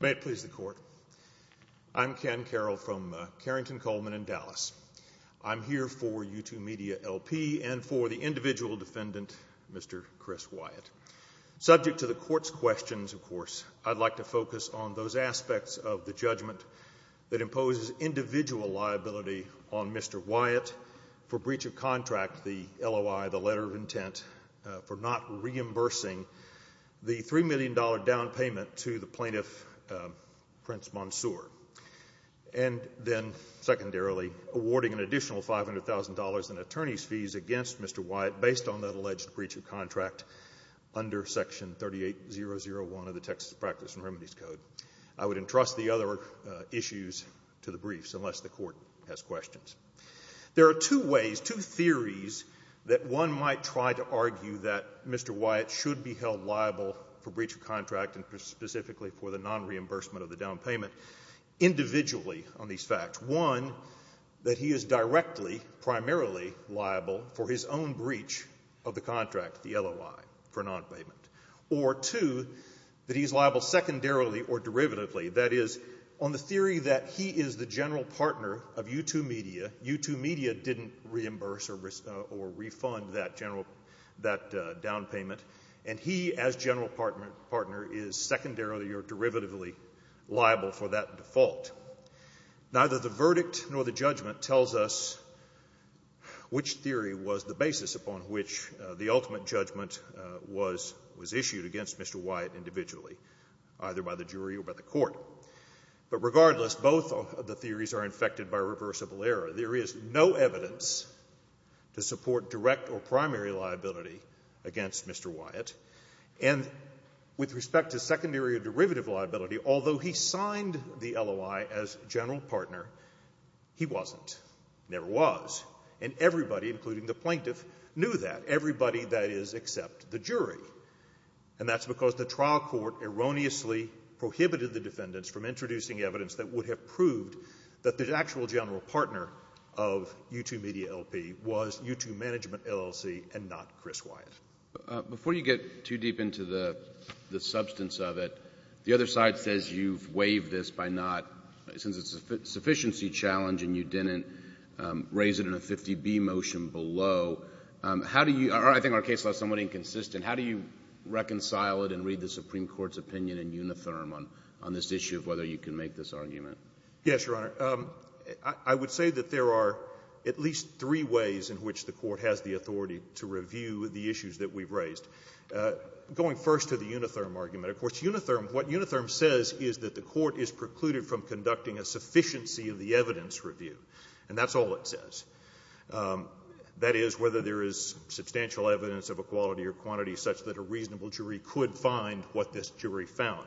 May it please the Court, I'm Ken Carroll from Carrington-Coleman in Dallas. I'm here for Youtoo Media,L.P. and for the individual defendant, Mr. Chris Wyatt. Subject to the Court's questions, of course, I'd like to focus on those aspects of the judgment that imposes individual liability on Mr. Wyatt for breach of contract, the LOI, the letter of intent, for not reimbursing the $3 million down payment to the plaintiff, Prince Mansour, and then, secondarily, awarding an additional $500,000 in attorney's fees against Mr. Wyatt based on that alleged breach of contract. Under Section 38001 of the Texas Practice and Remedies Code. I would entrust the other issues to the briefs unless the Court has questions. There are two ways, two theories that one might try to argue that Mr. Wyatt should be held liable for breach of contract and specifically for the non-reimbursement of the down payment individually on these facts. One, that he is directly, primarily liable for his own breach of the contract, the LOI, for non-payment. Or two, that he's liable secondarily or derivatively. That is, on the theory that he is the general partner of Youtoo Media, Youtoo Media didn't reimburse or refund that general, that down payment. And he, as general partner, is secondarily or derivatively liable for that default. Neither the verdict nor the judgment tells us which theory was the basis upon which the ultimate judgment was issued against Mr. Wyatt individually, either by the jury or by the court. But regardless, both of the theories are infected by reversible error. There is no evidence to support direct or primary liability against Mr. Wyatt. And with respect to secondary or derivative liability, although he signed the LOI as general partner, he wasn't, never was. And everybody, including the plaintiff, knew that. Everybody, that is, except the jury. And that's because the trial court erroneously prohibited the defendants from introducing evidence that would have proved that the actual general partner of Youtoo Media LP was Youtoo Management LLC and not Chris Wyatt. Before you get too deep into the substance of it, the other side says you've waived this by not, since it's a sufficiency challenge and you didn't raise it in a 50B motion below. How do you, or I think our case is somewhat inconsistent, how do you reconcile it and read the Supreme Court's opinion in uniform on this issue of whether you can make this argument? Yes, Your Honor. I would say that there are at least three ways in which the court has the authority to review the issues that we've raised. Going first to the unitherm argument. Of course, unitherm, what unitherm says is that the court is precluded from conducting a sufficiency of the evidence review. And that's all it says. That is, whether there is substantial evidence of a quality or quantity such that a reasonable jury could find what this jury found.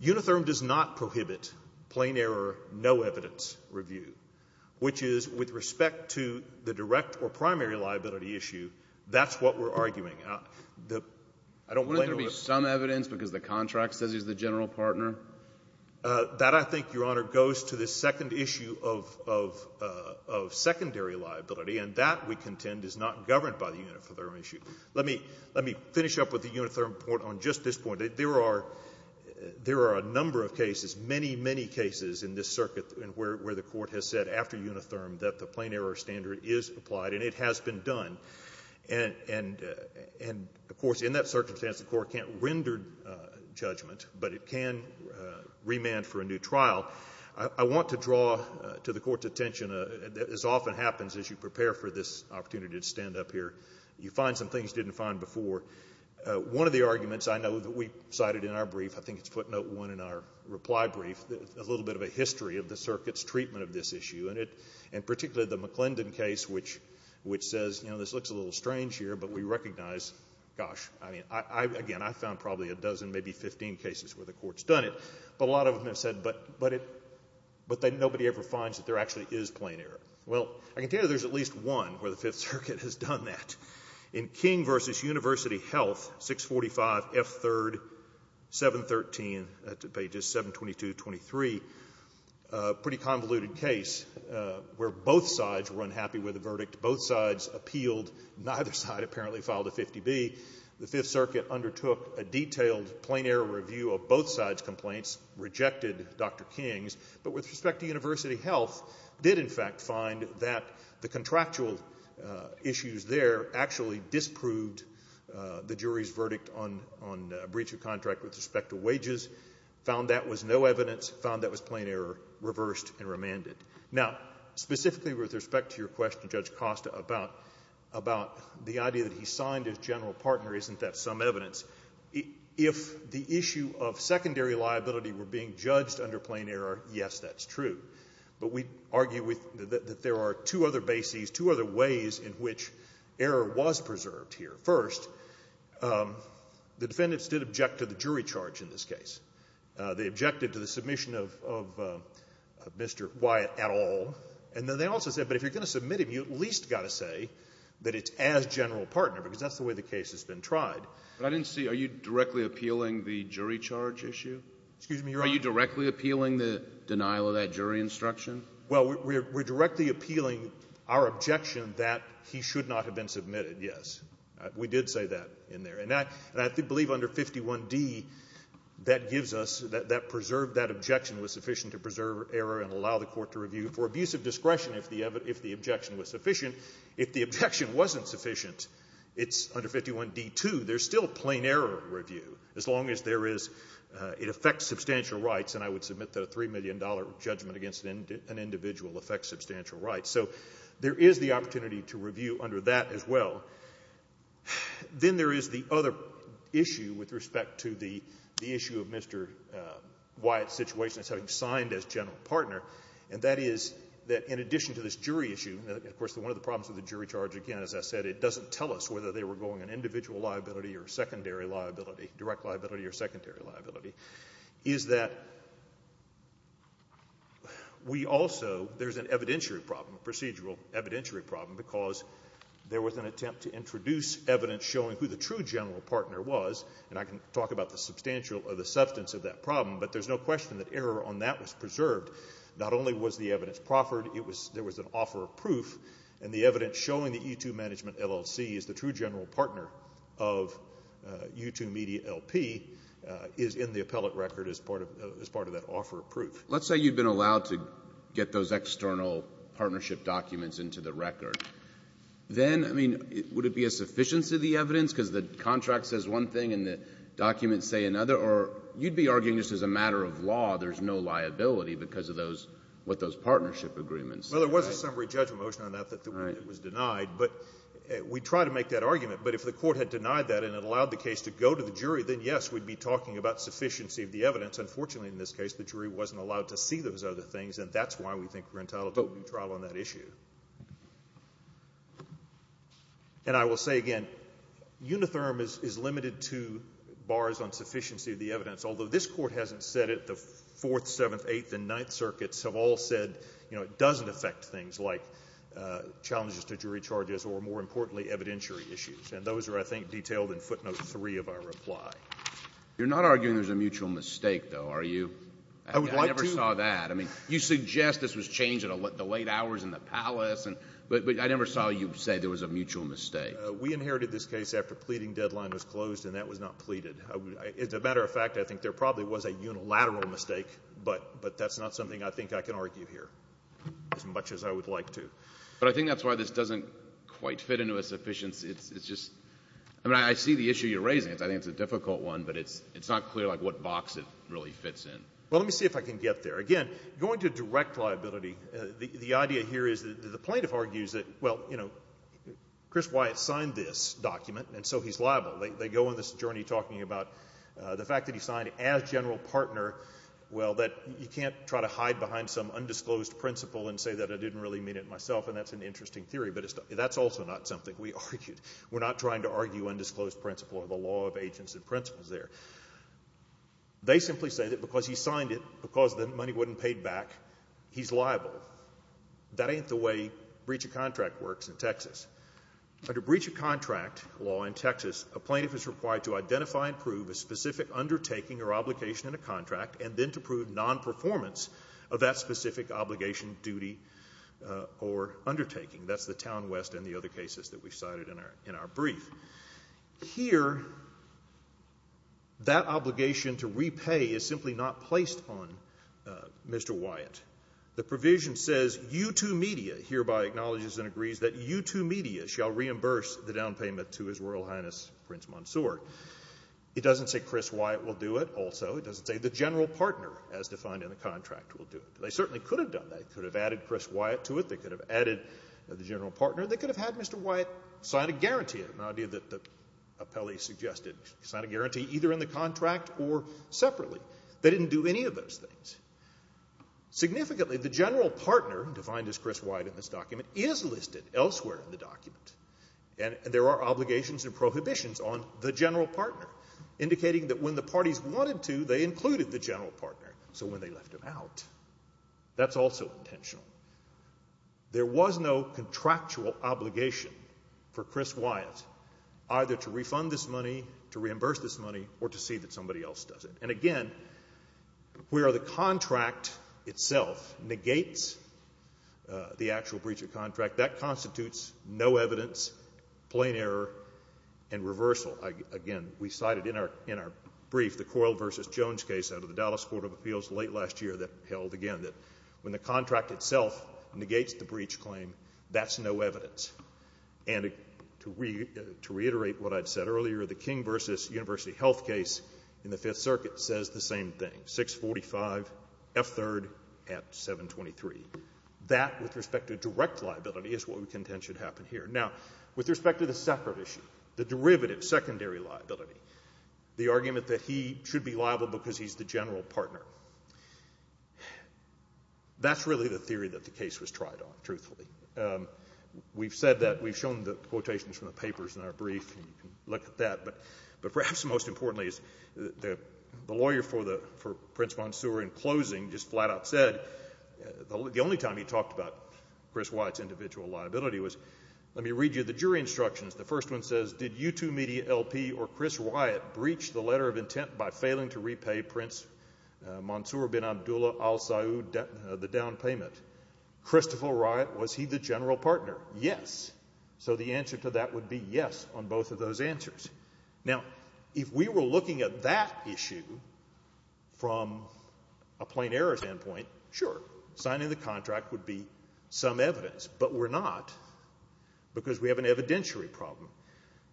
Unitherm does not prohibit plain error, no evidence review, which is with respect to the direct or primary liability issue, that's what we're arguing. I don't blame you. Wouldn't there be some evidence because the contract says he's the general partner? That, I think, Your Honor, goes to the second issue of secondary liability, and that, we contend, is not governed by the unitherm issue. Let me finish up with the unitherm point on just this point. There are a number of cases, many, many cases in this circuit where the court has said after unitherm that the plain error standard is applied, and it has been done. And, of course, in that circumstance, the court can't render judgment, but it can remand for a new trial. I want to draw to the Court's attention, as often happens as you prepare for this opportunity to stand up here, you find some things you didn't find before. One of the arguments I know that we cited in our brief, I think it's footnote 1 in our reply brief, a little bit of a history of the circuit's treatment of this issue, and particularly the McClendon case, which says, you know, this looks a little strange here, but we recognize, gosh, I mean, again, I found probably a dozen, maybe 15 cases where the court's done it, but a lot of them have said, but nobody ever finds that there actually is plain error. Well, I can tell you there's at least one where the Fifth Circuit has done that. In King v. University Health, 645F3rd, 713, pages 722 to 723, a pretty convoluted case where both sides were unhappy with the verdict. Both sides appealed. Neither side apparently filed a 50B. The Fifth Circuit undertook a detailed plain error review of both sides' complaints, rejected Dr. King's, but with respect to University Health, did in fact find that the contractual issues there actually disproved the jury's verdict on breach of contract with respect to wages, found that was no evidence, found that was plain error, reversed and remanded. Now, specifically with respect to your question, Judge Costa, about the idea that he signed as general partner, isn't that some evidence? If the issue of secondary liability were being judged under plain error, yes, that's true. But we argue that there are two other bases, two other ways in which error was preserved here. First, the defendants did object to the jury charge in this case. They objected to the submission of Mr. Wyatt at all. And then they also said, but if you're going to submit him, you at least got to say that it's as general partner, because that's the way the case has been tried. But I didn't see, are you directly appealing the jury charge issue? Are you directly appealing the denial of that jury instruction? Well, we're directly appealing our objection that he should not have been submitted, yes. We did say that in there. And I believe under 51d, that gives us, that preserved that objection was sufficient to preserve error and allow the court to review for abusive discretion if the objection was sufficient. If the objection wasn't sufficient, it's under 51d-2, there's still plain error review, as long as there is, it affects substantial rights, and I would submit that a $3 million judgment against an individual affects substantial rights. So there is the opportunity to review under that as well. Then there is the other issue with respect to the issue of Mr. Wyatt's situation as having signed as general partner, and that is that in addition to this jury issue, and of course one of the problems with the jury charge, again, as I said, it doesn't tell us whether they were going on individual liability or secondary liability, direct liability or secondary liability, is that we also, there's an evidentiary problem, procedural evidentiary problem, because there was an attempt to introduce evidence showing who the true general partner was, and I can talk about the substantial or the substance of that problem, but there's no question that error on that was preserved. Not only was the evidence proffered, it was, there was an offer of proof, and the evidence showing that U2 Management LLC is the true general partner of U2 Media LP is in the appellate record as part of that offer of proof. Let's say you've been allowed to get those external partnership documents into the record. Then, I mean, would it be a sufficiency of the evidence because the contract says one thing and the documents say another, or you'd be arguing just as a matter of law there's no liability because of those, what those partnership agreements. Well, there was a summary judgment motion on that that was denied, but we try to make that argument, but if the court had denied that and it allowed the case to go to the jury, then, yes, we'd be talking about sufficiency of the evidence. Unfortunately, in this case, the jury wasn't allowed to see those other things, and that's why we think we're entitled to a new trial on that issue. And I will say again, Unitherm is limited to bars on sufficiency of the evidence, although this Court hasn't said it, the Fourth, Seventh, Eighth, and Ninth Circuits have all said, you know, it doesn't affect things like challenges to jury charges or, more importantly, evidentiary issues, and those are, I think, detailed in footnote three of our reply. You're not arguing there's a mutual mistake, though, are you? I would like to. I never saw that. I mean, you suggest this was changed at the late hours in the palace, but I never saw you say there was a mutual mistake. We inherited this case after pleading deadline was closed, and that was not pleaded. As a matter of fact, I think there probably was a unilateral mistake, but that's not something I think I can argue here as much as I would like to. But I think that's why this doesn't quite fit into a sufficiency. It's just – I mean, I see the issue you're raising. I think it's a difficult one, but it's not clear, like, what box it really fits in. Well, let me see if I can get there. Again, going to direct liability, the idea here is that the plaintiff argues that, well, you know, Chris Wyatt signed this document, and so he's liable. They go on this journey talking about the fact that he signed as general partner, well, that you can't try to hide behind some undisclosed principle and say that I didn't really mean it myself, and that's an interesting theory, but that's also not something we argued. We're not trying to argue undisclosed principle or the law of agents and principles there. They simply say that because he signed it, because the money wasn't paid back, he's liable. That ain't the way breach of contract works in Texas. Under breach of contract law in Texas, a plaintiff is required to identify and prove a specific undertaking or obligation in a contract and then to prove nonperformance of that specific obligation, duty, or undertaking. That's the Town West and the other cases that we cited in our brief. Here, that obligation to repay is simply not placed on Mr. Wyatt. The provision says you to media hereby acknowledges and agrees that you to media shall reimburse the down payment to His Royal Highness Prince Mansour. It doesn't say Chris Wyatt will do it also. It doesn't say the general partner, as defined in the contract, will do it. They certainly could have done that. They could have added Chris Wyatt to it. They could have added the general partner. They could have had Mr. Wyatt sign a guarantee, an idea that the appellee suggested, sign a guarantee either in the contract or separately. They didn't do any of those things. Significantly, the general partner, defined as Chris Wyatt in this document, is listed elsewhere in the document. And there are obligations and prohibitions on the general partner, indicating that when the parties wanted to, they included the general partner. So when they left him out, that's also intentional. There was no contractual obligation for Chris Wyatt either to refund this money, to reimburse this money, or to see that somebody else does it. And again, where the contract itself negates the actual breach of contract, that constitutes no evidence, plain error, and reversal. Again, we cited in our brief the Coyle v. Jones case out of the Dallas Court of Appeals late last year that held, again, that when the contract itself negates the breach claim, that's no evidence. And to reiterate what I'd said earlier, the King v. University Health case in the Fifth Circuit says the same thing, 645F3rd at 723. That, with respect to direct liability, is what we contend should happen here. Now, with respect to the separate issue, the derivative, secondary liability, the argument that he should be liable because he's the general partner, that's really the theory that the case was tried on, truthfully. We've said that. We've shown the quotations from the papers in our brief, and you can look at that. But perhaps most importantly, the lawyer for Prince Monsoor, in closing, just flat-out said, the only time he talked about Chris Wyatt's individual liability was, let me read you the jury instructions. The first one says, did U2 Media LP or Chris Wyatt breach the letter of intent by failing to repay Prince Monsoor bin Abdullah Al Saud the down payment? Christopher Wyatt, was he the general partner? Yes. So the answer to that would be yes on both of those answers. Now, if we were looking at that issue from a plain errors standpoint, sure, signing the contract would be some evidence. But we're not because we have an evidentiary problem.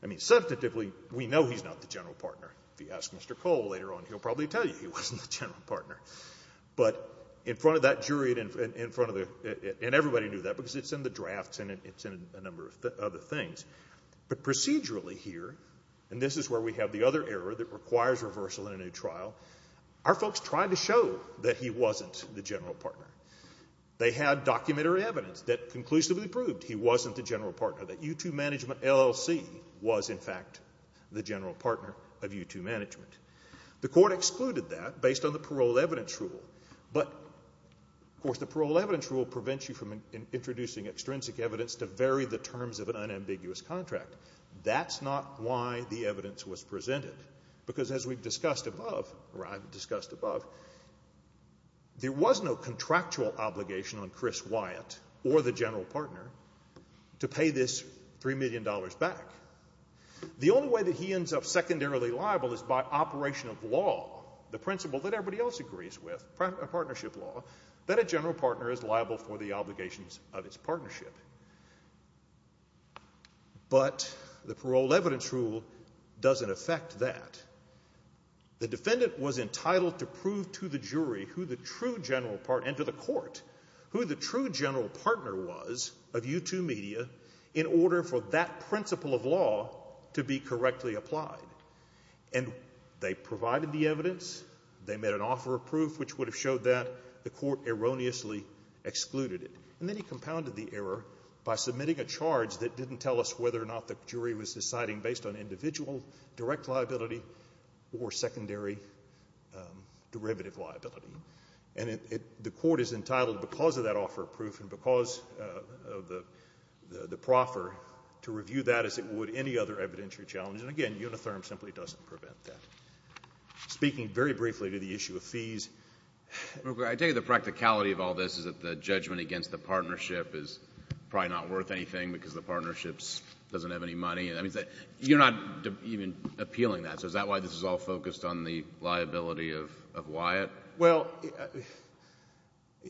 I mean, substantively, we know he's not the general partner. If you ask Mr. Cole later on, he'll probably tell you he wasn't the general partner. But in front of that jury and in front of the ñ and everybody knew that because it's in the drafts and it's in a number of other things. But procedurally here, and this is where we have the other error that requires reversal in a new trial, our folks tried to show that he wasn't the general partner. They had documentary evidence that conclusively proved he wasn't the general partner, that U2 Management LLC was, in fact, the general partner of U2 Management. The court excluded that based on the parole evidence rule. But, of course, the parole evidence rule prevents you from introducing extrinsic evidence to vary the terms of an unambiguous contract. That's not why the evidence was presented. Because as we've discussed above, or I've discussed above, there was no contractual obligation on Chris Wyatt or the general partner to pay this $3 million back. The only way that he ends up secondarily liable is by operation of law, the principle that everybody else agrees with, partnership law, that a general partner is liable for the obligations of its partnership. But the parole evidence rule doesn't affect that. The defendant was entitled to prove to the jury who the true general partner, and to the court, who the true general partner was of U2 Media in order for that principle of law to be correctly applied. And they provided the evidence, they made an offer of proof, which would have showed that the court erroneously excluded it. And then he compounded the error by submitting a charge that didn't tell us whether or not the jury was deciding based on individual direct liability or secondary derivative liability. And the court is entitled, because of that offer of proof and because of the proffer, to review that as it would any other evidentiary challenge. And, again, Unitherm simply doesn't prevent that. Speaking very briefly to the issue of fees. I take it the practicality of all this is that the judgment against the partnership is probably not worth anything because the partnership doesn't have any money. You're not even appealing that. So is that why this is all focused on the liability of Wyatt? Well,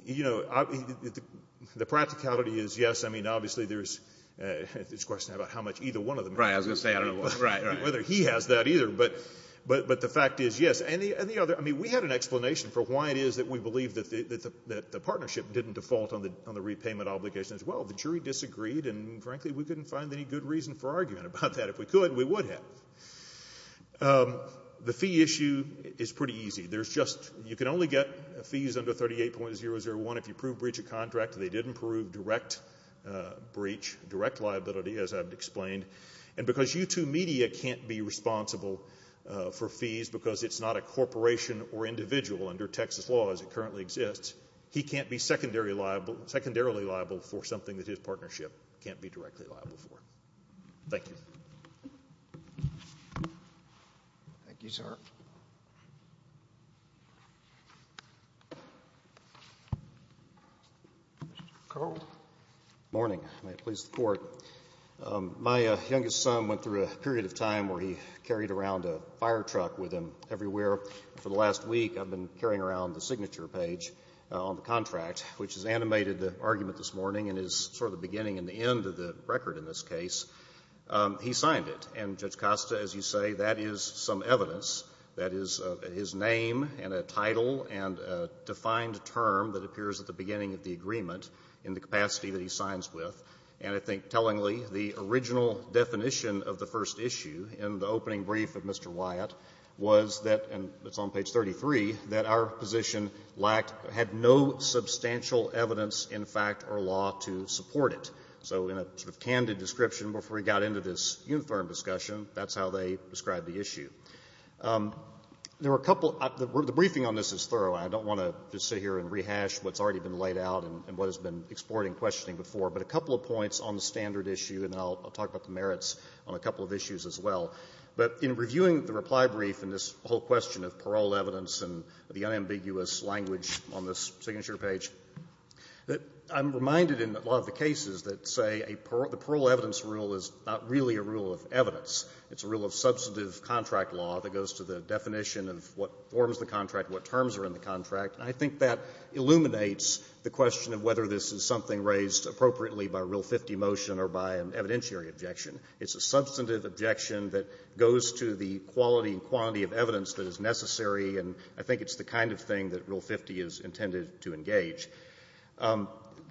you know, the practicality is, yes, I mean, obviously there's this question about how much either one of them has. Right, I was going to say I don't know whether he has that either. But the fact is, yes. And the other, I mean, we had an explanation for why it is that we believe that the partnership didn't default on the repayment obligation as well. The jury disagreed, and, frankly, we couldn't find any good reason for arguing about that. If we could, we would have. The fee issue is pretty easy. There's just, you can only get fees under 38.001 if you prove breach of contract. They didn't prove direct breach, direct liability, as I've explained. And because U2 Media can't be responsible for fees because it's not a corporation or individual under Texas law as it currently exists, he can't be secondarily liable for something that his partnership can't be directly liable for. Thank you. Thank you, sir. Carl. Good morning. May it please the Court. My youngest son went through a period of time where he carried around a fire truck with him everywhere. For the last week, I've been carrying around the signature page on the contract, which has animated the argument this morning and is sort of the beginning and the end of the record in this case. He signed it. And, Judge Costa, as you say, that is some evidence. That is his name and a title and a defined term that appears at the beginning of the agreement in the capacity that he signs with. And I think tellingly, the original definition of the first issue in the opening brief of Mr. Wyatt was that, and it's on page 33, that our position lacked or had no substantial evidence, in fact, or law to support it. So in a sort of candid description, before we got into this uniform discussion, that's how they described the issue. There were a couple of other words. The briefing on this is thorough. I don't want to just sit here and rehash what's already been laid out and what has been explored in questioning before. But a couple of points on the standard issue, and I'll talk about the merits on a couple of issues as well. But in reviewing the reply brief and this whole question of parole evidence and the unambiguous language on this signature page, I'm reminded in a lot of the cases that say a parole evidence rule is not really a rule of evidence. It's a rule of substantive contract law that goes to the definition of what forms the contract, what terms are in the contract. And I think that illuminates the question of whether this is something raised appropriately by Rule 50 motion or by an evidentiary objection. It's a substantive objection that goes to the quality and quantity of evidence that is necessary, and I think it's the kind of thing that Rule 50 is intended to engage.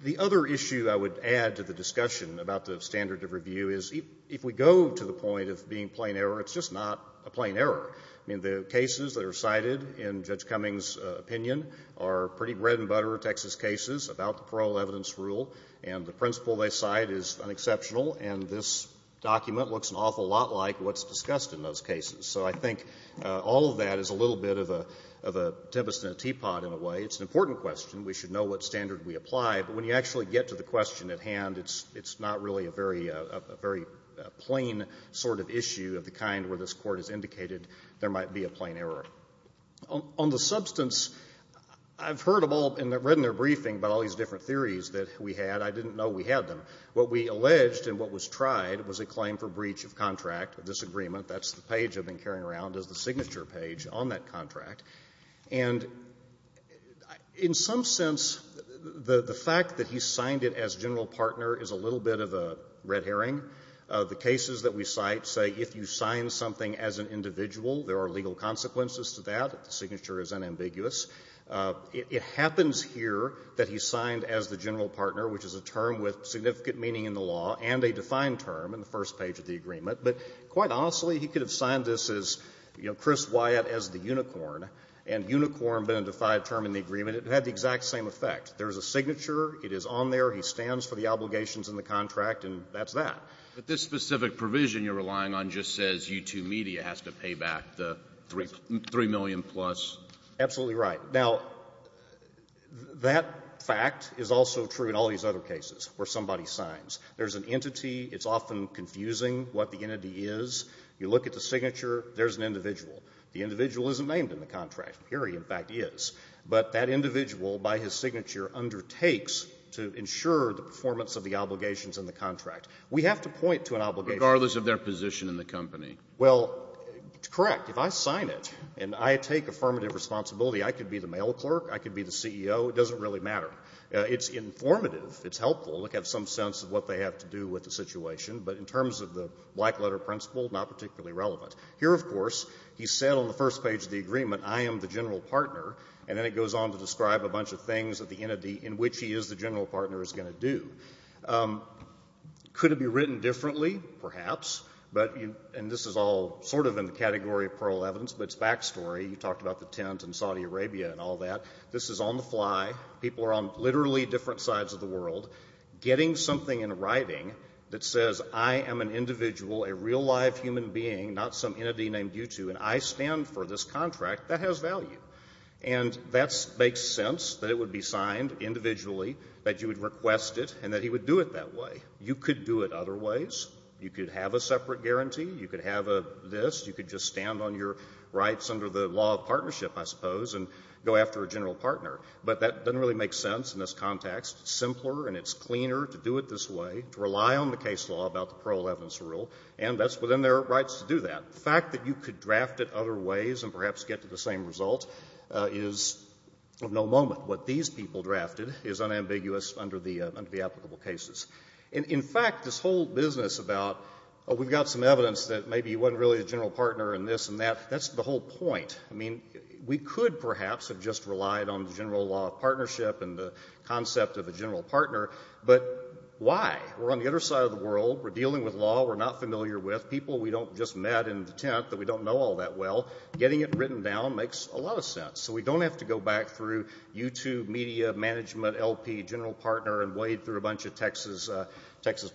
The other issue I would add to the discussion about the standard of review is if we go to the point of being plain error, it's just not a plain error. I mean, the cases that are cited in Judge Cummings' opinion are pretty bread-and-butter Texas cases about the parole evidence rule, and the principle they cite is unexceptional, and this document looks an awful lot like what's discussed in those cases. So I think all of that is a little bit of a tempest in a teapot in a way. It's an important question. We should know what standard we apply, but when you actually get to the question at hand, it's not really a very plain sort of issue of the kind where this Court has indicated there might be a plain error. On the substance, I've heard of all and read in their briefing about all these different theories that we had. I didn't know we had them. What we alleged and what was tried was a claim for breach of contract, a disagreement. That's the page I've been carrying around as the signature page on that contract. And in some sense, the fact that he signed it as general partner is a little bit of a red herring. The cases that we cite say if you sign something as an individual, there are legal consequences to that. The signature is unambiguous. It happens here that he signed as the general partner, which is a term with significant meaning in the law and a defined term in the first page of the agreement. But quite honestly, he could have signed this as, you know, Chris Wyatt as the unicorn, and unicorn been a defined term in the agreement. It had the exact same effect. There is a signature. It is on there. He stands for the obligations in the contract, and that's that. But this specific provision you're relying on just says U2 Media has to pay back the $3 million plus. Absolutely right. Now, that fact is also true in all these other cases where somebody signs. There's an entity. It's often confusing what the entity is. You look at the signature. There's an individual. The individual isn't named in the contract. Here he, in fact, is. But that individual, by his signature, undertakes to ensure the performance of the obligations in the contract. We have to point to an obligation. Regardless of their position in the company. Well, correct. If I sign it and I take affirmative responsibility, I could be the mail clerk. I could be the CEO. It doesn't really matter. It's informative. It's helpful. It gives some sense of what they have to do with the situation. But in terms of the black-letter principle, not particularly relevant. Here, of course, he said on the first page of the agreement, I am the general partner, and then it goes on to describe a bunch of things that the entity, in which he is the general partner, is going to do. Could it be written differently? Perhaps. And this is all sort of in the category of parallel evidence, but it's backstory. You talked about the tent and Saudi Arabia and all that. This is on the fly. People are on literally different sides of the world. Getting something in writing that says, I am an individual, a real, live human being, not some entity named you two, and I stand for this contract, that has value. And that makes sense, that it would be signed individually, that you would request it, and that he would do it that way. You could do it other ways. You could have a separate guarantee. You could have a this. You could just stand on your rights under the law of partnership, I suppose, and go after a general partner. But that doesn't really make sense in this context. It's simpler and it's cleaner to do it this way, to rely on the case law about the parallel evidence rule, and that's within their rights to do that. The fact that you could draft it other ways and perhaps get to the same result is of no moment. What these people drafted is unambiguous under the applicable cases. In fact, this whole business about, oh, we've got some evidence that maybe he wasn't really a general partner and this and that, that's the whole point. I mean, we could perhaps have just relied on the general law of partnership and the concept of a general partner, but why? We're on the other side of the world. We're dealing with law we're not familiar with. We've got people we don't just met in the tent that we don't know all that well. Getting it written down makes a lot of sense. So we don't have to go back through YouTube, media, management, LP, general partner, and wade through a bunch of Texas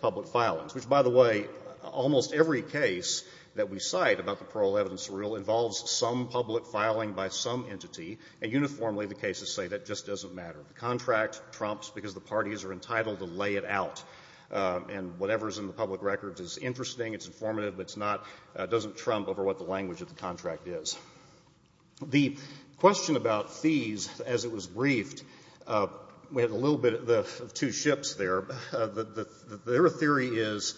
public filings. Which, by the way, almost every case that we cite about the parallel evidence rule involves some public filing by some entity, and uniformly the cases say that just doesn't matter. The contract trumps because the parties are entitled to lay it out, and whatever is in the public records is interesting, it's informative, but it's not, doesn't trump over what the language of the contract is. The question about fees, as it was briefed, we had a little bit of two ships there. Their theory is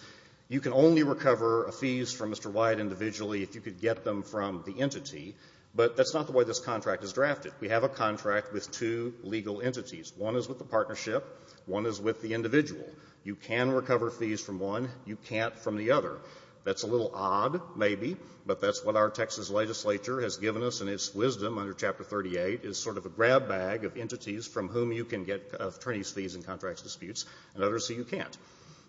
you can only recover fees from Mr. Wyatt individually if you could get them from the entity, but that's not the way this contract is drafted. We have a contract with two legal entities. One is with the partnership. One is with the individual. You can recover fees from one. You can't from the other. That's a little odd, maybe, but that's what our Texas legislature has given us in its wisdom under Chapter 38, is sort of a grab bag of entities from whom you can get attorney's fees in contract disputes and others who you can't.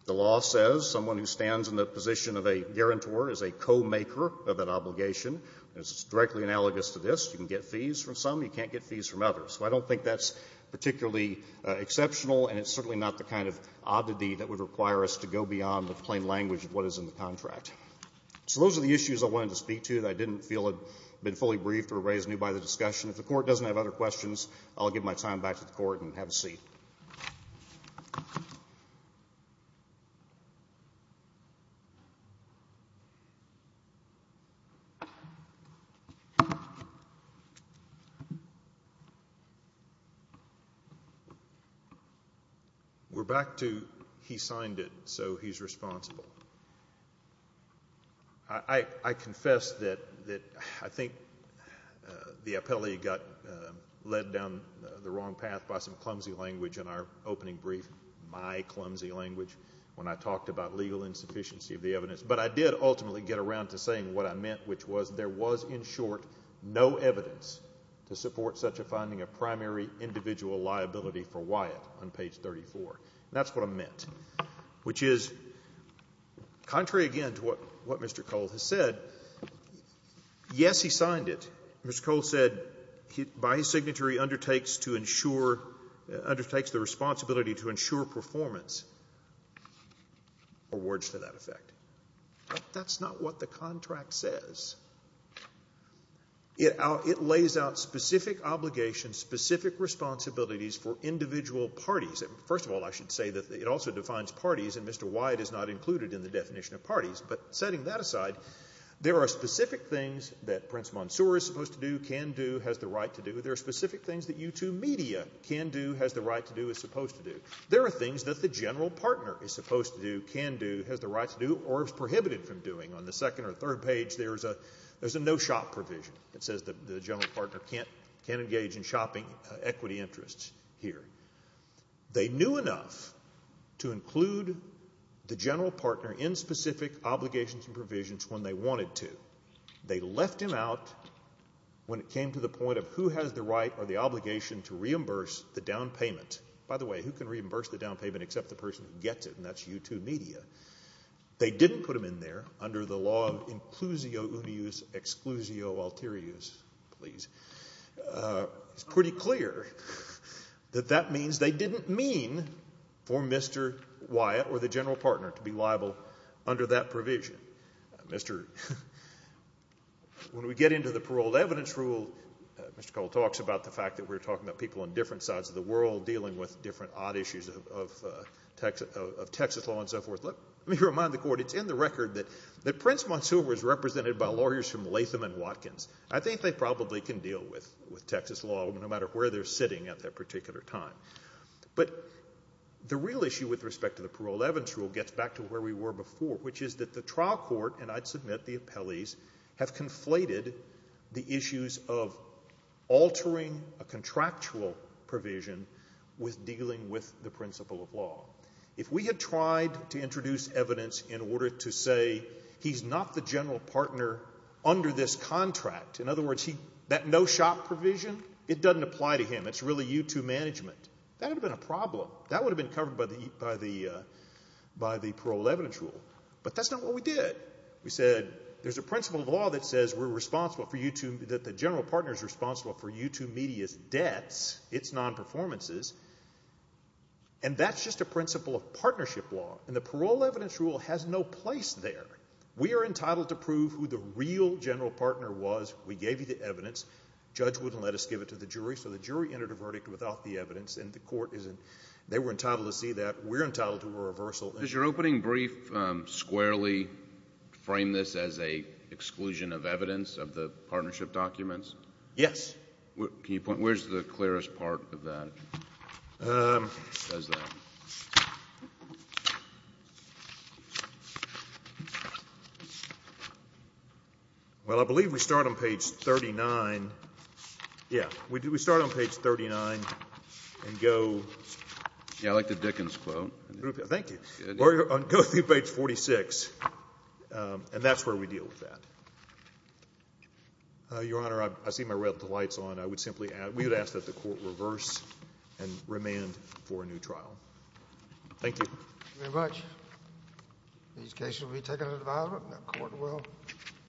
The law says someone who stands in the position of a guarantor is a co-maker of that obligation. It's directly analogous to this. You can get fees from some. You can't get fees from others. So I don't think that's particularly exceptional, and it's certainly not the kind of oddity that would require us to go beyond the plain language of what is in the contract. So those are the issues I wanted to speak to that I didn't feel had been fully briefed or raised new by the discussion. If the Court doesn't have other questions, I'll give my time back to the Court and have a seat. Thank you. We're back to he signed it, so he's responsible. I confess that I think the appellee got led down the wrong path by some clumsy language in our opening brief, my clumsy language, when I talked about legal insufficiency of the evidence. But I did ultimately get around to saying what I meant, which was there was, in short, no evidence to support such a finding of primary individual liability for Wyatt on page 34. That's what I meant, which is contrary again to what Mr. Cole has said, yes, he signed it. Mr. Cole said by his signature he undertakes to ensure, undertakes the responsibility to ensure performance, or words to that effect. But that's not what the contract says. It lays out specific obligations, specific responsibilities for individual parties. First of all, I should say that it also defines parties, and Mr. Wyatt is not included in the definition of parties. But setting that aside, there are specific things that Prince Mansour is supposed to do, can do, has the right to do. There are specific things that U2 Media can do, has the right to do, is supposed to do. There are things that the general partner is supposed to do, can do, has the right to do, or is prohibited from doing. On the second or third page, there's a no shop provision that says the general partner can't engage in shopping equity interests here. They knew enough to include the general partner in specific obligations and provisions when they wanted to. They left him out when it came to the point of who has the right or the obligation to reimburse the down payment. By the way, who can reimburse the down payment except the person who gets it, and that's U2 Media. They didn't put him in there under the law inclusio unius exclusio alterius. It's pretty clear that that means they didn't mean for Mr. Wyatt or the general partner to be liable under that provision. When we get into the paroled evidence rule, Mr. Cole talks about the fact that we're talking about people on different sides of the world dealing with different odd issues of Texas law and so forth. Let me remind the Court, it's in the record that Prince Montsuva is represented by lawyers from Latham and Watkins. I think they probably can deal with Texas law no matter where they're sitting at that particular time. But the real issue with respect to the paroled evidence rule gets back to where we were before, which is that the trial court, and I'd submit the appellees, have conflated the issues of altering a contractual provision with dealing with the principle of law. If we had tried to introduce evidence in order to say he's not the general partner under this contract, in other words, that no shop provision, it doesn't apply to him. It's really U2 management. That would have been a problem. That would have been covered by the paroled evidence rule. But that's not what we did. We said there's a principle of law that says we're responsible for U2, that the general partner is responsible for U2 Media's debts, its non-performances, and that's just a principle of partnership law, and the paroled evidence rule has no place there. We are entitled to prove who the real general partner was. We gave you the evidence. The judge wouldn't let us give it to the jury, so the jury entered a verdict without the evidence, and the court isn't. They were entitled to see that. We're entitled to a reversal. Does your opening brief squarely frame this as an exclusion of evidence of the partnership documents? Yes. Can you point? Where's the clearest part of that? Well, I believe we start on page 39. Yeah. We start on page 39 and go. Yeah, I like the Dickens quote. Thank you. Go through page 46, and that's where we deal with that. Your Honor, I see my red lights on. We would ask that the court reverse and remand for a new trial. Thank you. Thank you very much. These cases will be taken into development, and the court will.